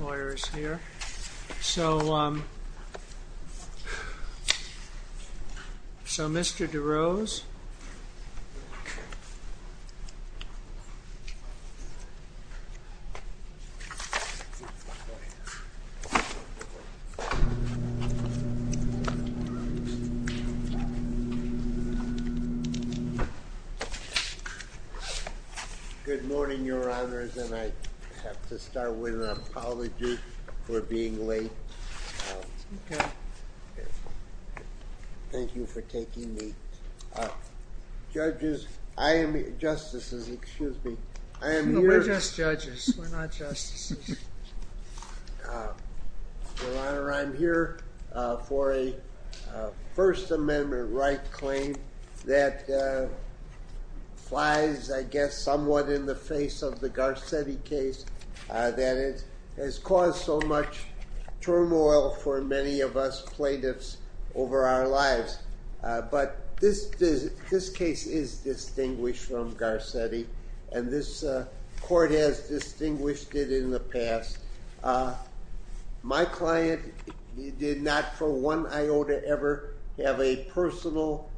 ...lawyers here. So, um, so Mr. DeRose... Good morning, Your Honors, and I have to start with an apology for being late. Thank you for taking me. Judges, I am... Justices, excuse me, I am here... Your Honor, I am here for a First Amendment right claim that flies, I guess, somewhat in the face of the Garcetti case that has caused so much turmoil for many of us plaintiffs over our lives. But this case is distinguished from Garcetti, and this court has distinguished it in the past. My client did not, for one iota ever, have a personal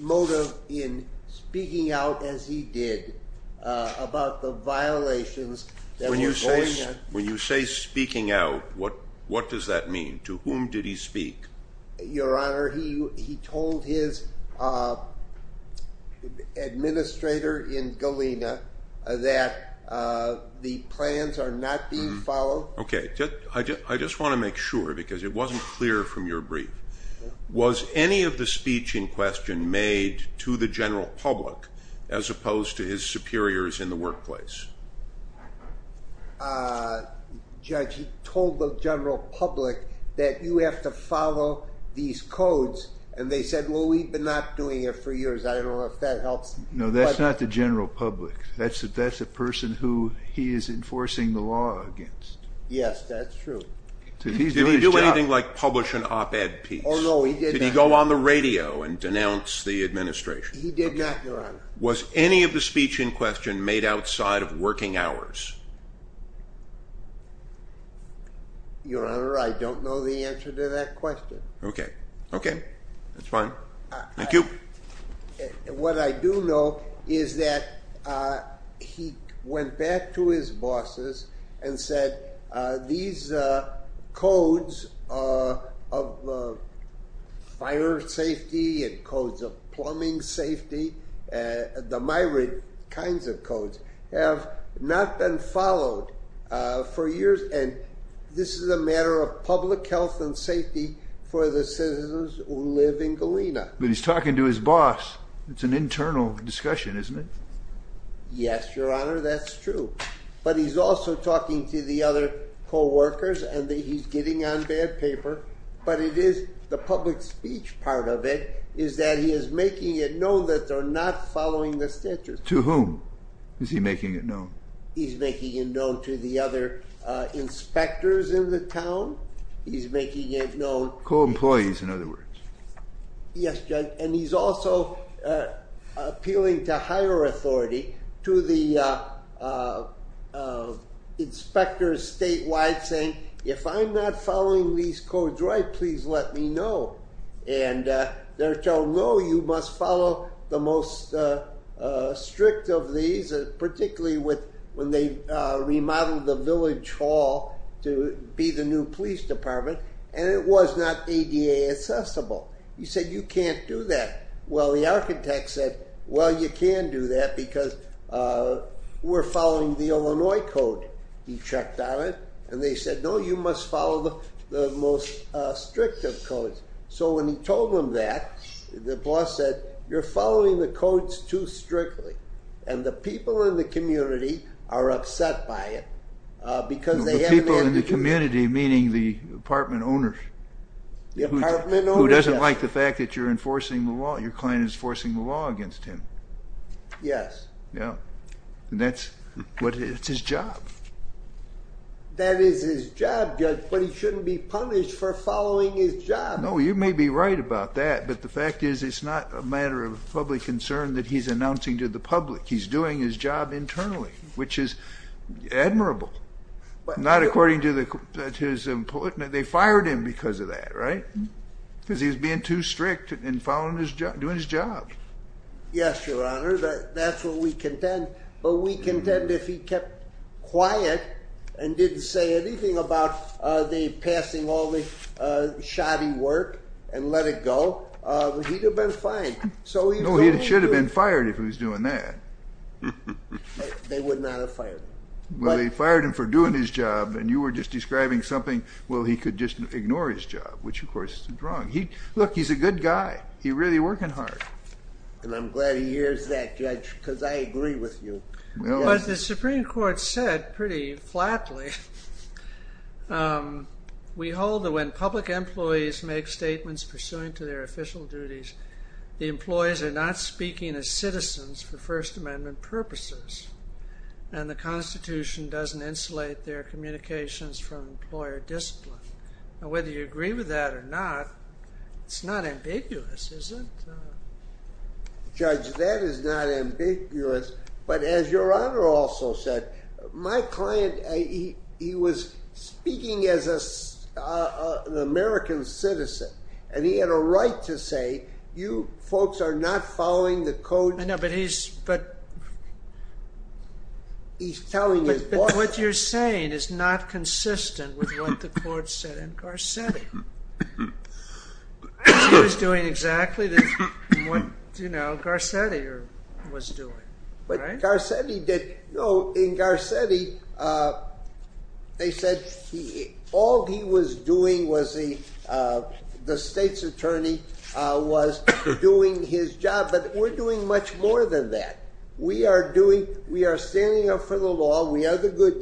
motive in speaking out as he did about the violations that were going on... When you say speaking out, what does that mean? To whom did he speak? Your Honor, he told his administrator in Galena that the plans are not being followed. Okay, I just want to make sure, because it wasn't clear from your brief. Was any of the speech in question made to the general public as opposed to his superiors in the workplace? Judge, he told the general public that you have to follow these codes, and they said, well, we've been not doing it for years. I That's a person who he is enforcing the law against. Yes, that's true. Did he do anything like publish an op-ed piece? Oh, no, he did not. Did he go on the radio and denounce the administration? He did not, Your Honor. Was any of the speech in question made outside of working hours? Your Honor, I don't know the answer to that question. Okay, okay, that's He went back to his bosses and said, these codes of fire safety and codes of plumbing safety, the myriad kinds of codes, have not been followed for years, and this is a matter of public health and safety for the citizens who live in Galena. But he's talking to his Yes, Your Honor, that's true. But he's also talking to the other co-workers, and he's getting on bad paper, but it is the public speech part of it is that he is making it known that they're not following the statutes. To whom is he making it known? He's making it known to the other inspectors in the town. He's making it known. Co-employees, in other to the inspectors statewide saying, if I'm not following these codes right, please let me know. And they're told, no, you must follow the most strict of these, particularly when they remodeled the village hall to be the new police department, and it was not ADA accessible. He said, you can't do that. Well, the architect said, well, you can do that because we're following the Illinois code. He checked on it, and they said, no, you must follow the most strict of codes. So when he told them that, the boss said, you're following the codes too strictly, and the people in the community are upset by it because they in the community, meaning the apartment owners, who doesn't like the fact that you're enforcing the law, your client is forcing the law against him. Yes. Yeah. And that's what, it's his job. That is his job, Judge, but he shouldn't be punished for following his job. No, you may be right about that, but the fact is, it's not a matter of public concern that he's announcing to the public. He's doing his job internally, which is admirable, but not according to his employment. They fired him because of that, right? Because he was being too strict and following his job, doing his job. Yes, Your Honor, that's what we contend, but we contend if he kept quiet and didn't say anything about the passing all the shoddy work and let it go, he'd have been fine. No, he should have been fired if he was doing that. They would not have fired him. Well, they fired him for doing his job, and you were just describing something, well, he could just ignore his job, which of course is wrong. He, look, he's a good guy. He's really working hard. And I'm glad he hears that, Judge, because I agree with you. But the Supreme Court said pretty flatly, we hold that when public employees make statements pursuant to their official duties, the employees are not speaking as citizens for First Amendment purposes, and the Constitution doesn't insulate their communications from employer discipline. Now, whether you agree with that or not, it's not ambiguous, is it? No, Judge, that is not ambiguous. But as Your Honor also said, my client, he was speaking as an American citizen, and he had a right to say, you folks are not following the code. I know, but he's, but... He's telling his boss... But what you're saying is not consistent with what the court said, Garcetti. He was doing exactly what, you know, Garcetti was doing. But Garcetti did, no, in Garcetti, they said all he was doing was, the state's attorney was doing his job, but we're doing much more than that. We are doing, we are standing up for the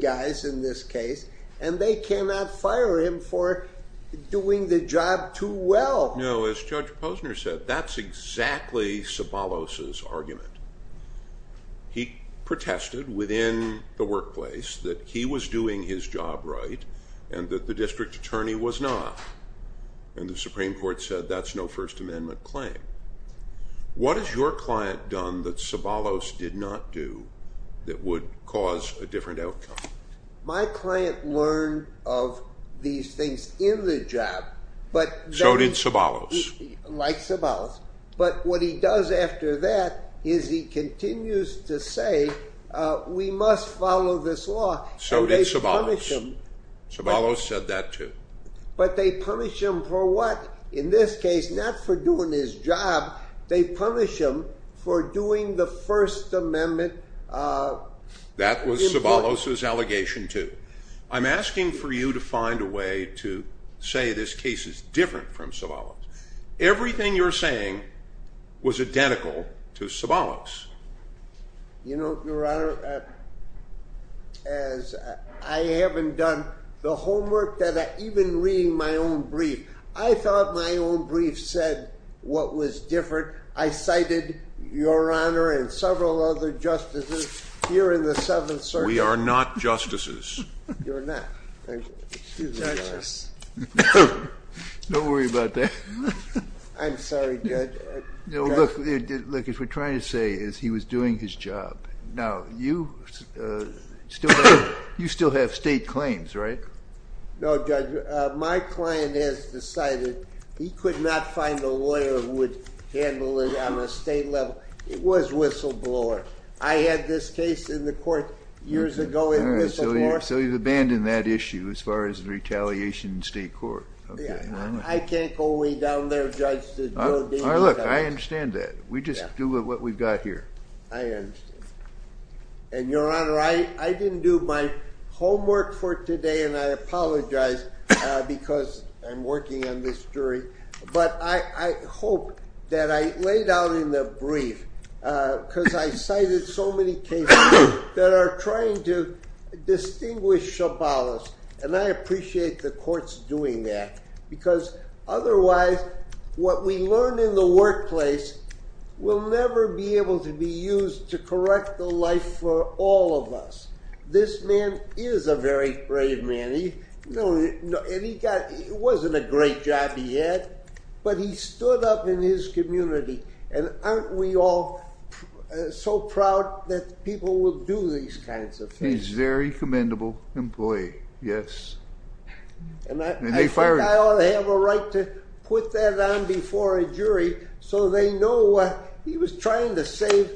doing the job too well. No, as Judge Posner said, that's exactly Sabalos' argument. He protested within the workplace that he was doing his job right, and that the district attorney was not. And the Supreme Court said that's no First Amendment claim. What has your client done that Sabalos did not do that would cause a different outcome? My client learned of these things in the job, but... So did Sabalos. Like Sabalos. But what he does after that is he continues to say, we must follow this law. So did Sabalos. And they punish him. Sabalos said that too. But they punish him for what? In this case, not for doing his job, they punish him for doing the First Amendment. That was Sabalos' allegation too. I'm asking for you to find a way to say this case is different from Sabalos. Everything you're saying was identical to Sabalos. You know, Your Honor, as I haven't done the homework that I, even reading my own brief, I thought my own brief said what was different. I cited Your Honor and several other justices here in the Seventh Circuit. We are not justices. You're not. Don't worry about that. I'm sorry, Judge. Look, what we're trying to say is he was doing his job. Now, you still have state claims, right? No, Judge. My client has decided he could not find a lawyer who would handle it on a state level. It was whistleblower. I had this case in the court years ago in Whistleblower. So you've abandoned that issue as far as the retaliation in state court. I can't go way down there, Judge. Look, I understand that. We just do what we've got here. I understand. And Your Honor, I didn't do my homework for today, and I apologize because I'm working on this jury. But I hope that I laid out in the brief, because I cited so many cases that are trying to distinguish Sabalos, and I appreciate the courts doing that. Otherwise, what we learn in the workplace will never be able to be used to correct the life for all of us. This man is a very brave man. It wasn't a great job he had, but he stood up in his community. And aren't we all so proud that people will do these kinds of things? He's a very commendable employee, yes. And I think I ought to have a right to put that on before a jury, so they know he was trying to save,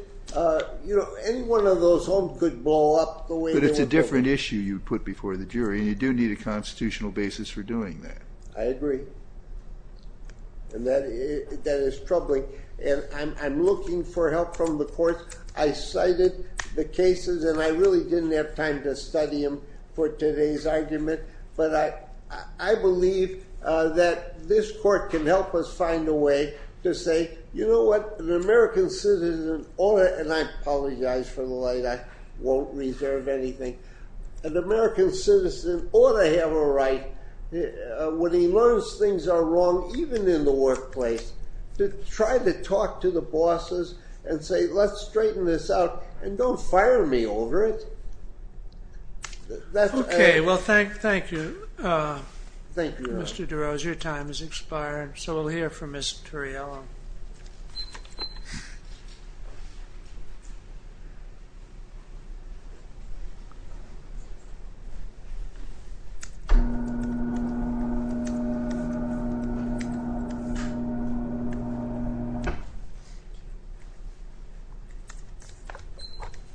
you know, any one of those homes could blow up. But it's a different issue you put before the jury, and you do need a constitutional basis for doing that. I agree. And that is troubling. And I'm looking for help from the courts. I cited the cases, and I really didn't have time to study them for today's argument. But I believe that this court can help us find a way to say, you know what, an American citizen ought to, and I apologize for the light, I won't reserve anything. An American citizen ought to have a right, when he learns things are wrong, even in the workplace, to try to talk to the bosses and say, let's straighten this out, and don't fire me over it. Okay, well, thank you. Thank you. Mr. DeRose, your time is expiring, so we'll hear from Ms. Turriello.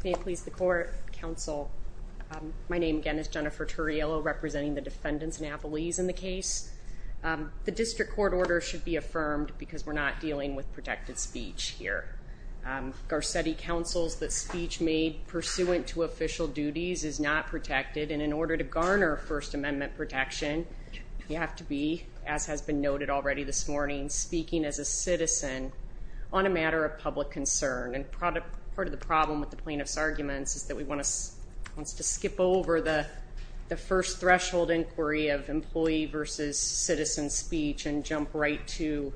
May it please the court, counsel. My name, again, is Jennifer Turriello, representing the defendants and appellees in the case. The district court order should be affirmed, because we're not dealing with protected speech here. Garcetti counsels that speech made pursuant to official duties is not protected, and in order to garner First Amendment protection, you have to be, as has been noted already this a citizen, on a matter of public concern, and part of the problem with the plaintiff's arguments is that we want to skip over the first threshold inquiry of employee versus citizen speech, and jump right to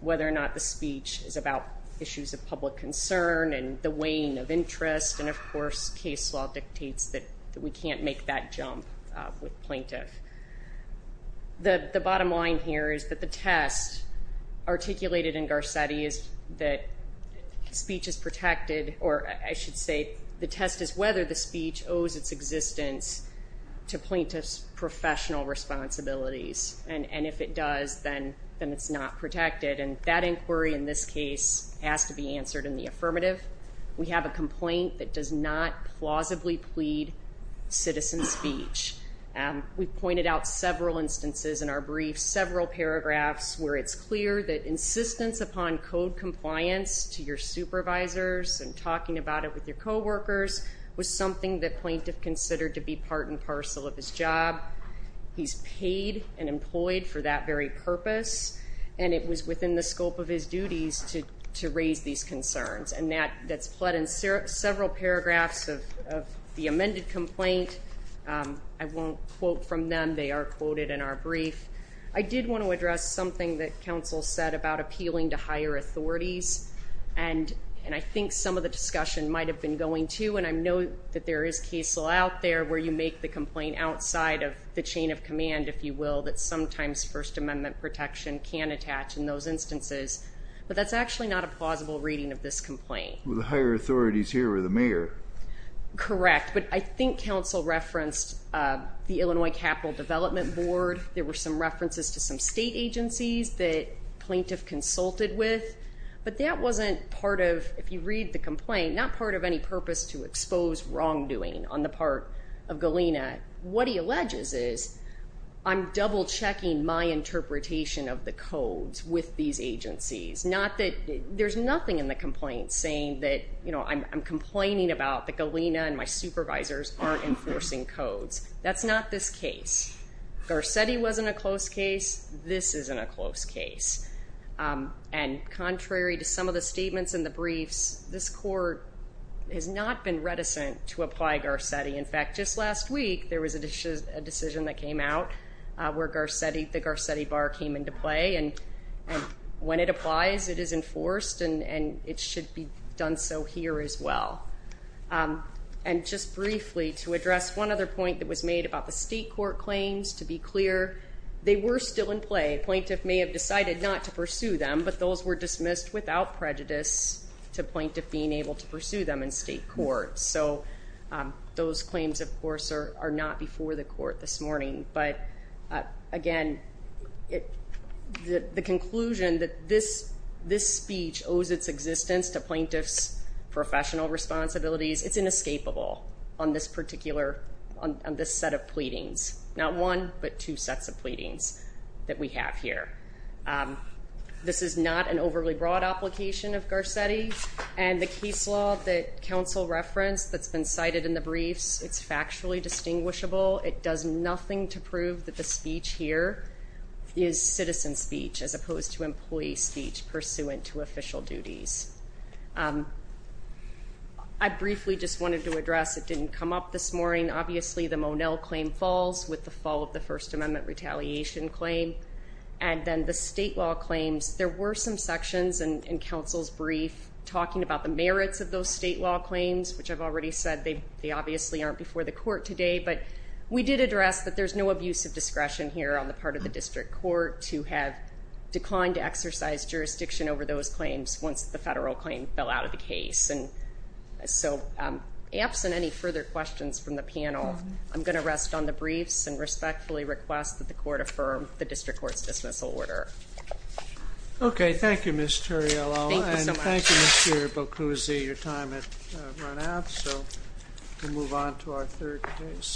whether or not the speech is about issues of public concern, and the weighing of interest, and of course, case law dictates that we can't make that jump with plaintiff. The bottom line here is that the test articulated in Garcetti is that speech is protected, or I should say the test is whether the speech owes its existence to plaintiff's professional responsibilities, and if it does, then it's not protected, and that inquiry in this case has to be answered in the affirmative. We have a complaint that does not plausibly plead citizen speech. We've pointed out several instances in our brief, several paragraphs where it's clear that insistence upon code compliance to your supervisors and talking about it with your co-workers was something that plaintiff considered to be part and parcel of his job. He's paid and employed for that very purpose, and it was within the scope of his duties to complaint. I won't quote from them. They are quoted in our brief. I did want to address something that counsel said about appealing to higher authorities, and I think some of the discussion might have been going to, and I know that there is case law out there where you make the complaint outside of the chain of command, if you will, that sometimes First Amendment protection can attach in those instances, but that's actually not a plausible reading of this correct, but I think counsel referenced the Illinois Capital Development Board. There were some references to some state agencies that plaintiff consulted with, but that wasn't part of, if you read the complaint, not part of any purpose to expose wrongdoing on the part of Galena. What he alleges is, I'm double-checking my interpretation of the codes with these agencies, not that I'm complaining about that Galena and my supervisors aren't enforcing codes. That's not this case. Garcetti wasn't a close case. This isn't a close case, and contrary to some of the statements in the briefs, this court has not been reticent to apply Garcetti. In fact, just last week, there was a decision that came out where the Garcetti bar came into play, and when it applies, it is enforced, and it should be done so here as well. And just briefly, to address one other point that was made about the state court claims, to be clear, they were still in play. Plaintiff may have decided not to pursue them, but those were dismissed without prejudice to plaintiff being able to pursue them in state court. So those claims, of course, are not before the court this speech owes its existence to plaintiff's professional responsibilities. It's inescapable on this particular, on this set of pleadings. Not one, but two sets of pleadings that we have here. This is not an overly broad application of Garcetti, and the case law that counsel referenced that's been cited in the briefs, it's factually distinguishable. It does nothing to prove that the speech here is citizen speech as opposed to employee speech pursuant to official duties. I briefly just wanted to address, it didn't come up this morning, obviously, the Monell claim falls with the fall of the First Amendment retaliation claim, and then the state law claims. There were some sections in counsel's brief talking about the merits of those state law claims, which I've already said they obviously aren't before the court today, but we did address that there's no use of discretion here on the part of the district court to have declined to exercise jurisdiction over those claims once the federal claim fell out of the case. And so, absent any further questions from the panel, I'm going to rest on the briefs and respectfully request that the court affirm the district court's dismissal order. Okay, thank you, Ms. Terriello, and thank you, Mr. Boccuzzi. Your time has run out, so we'll move on to our third case.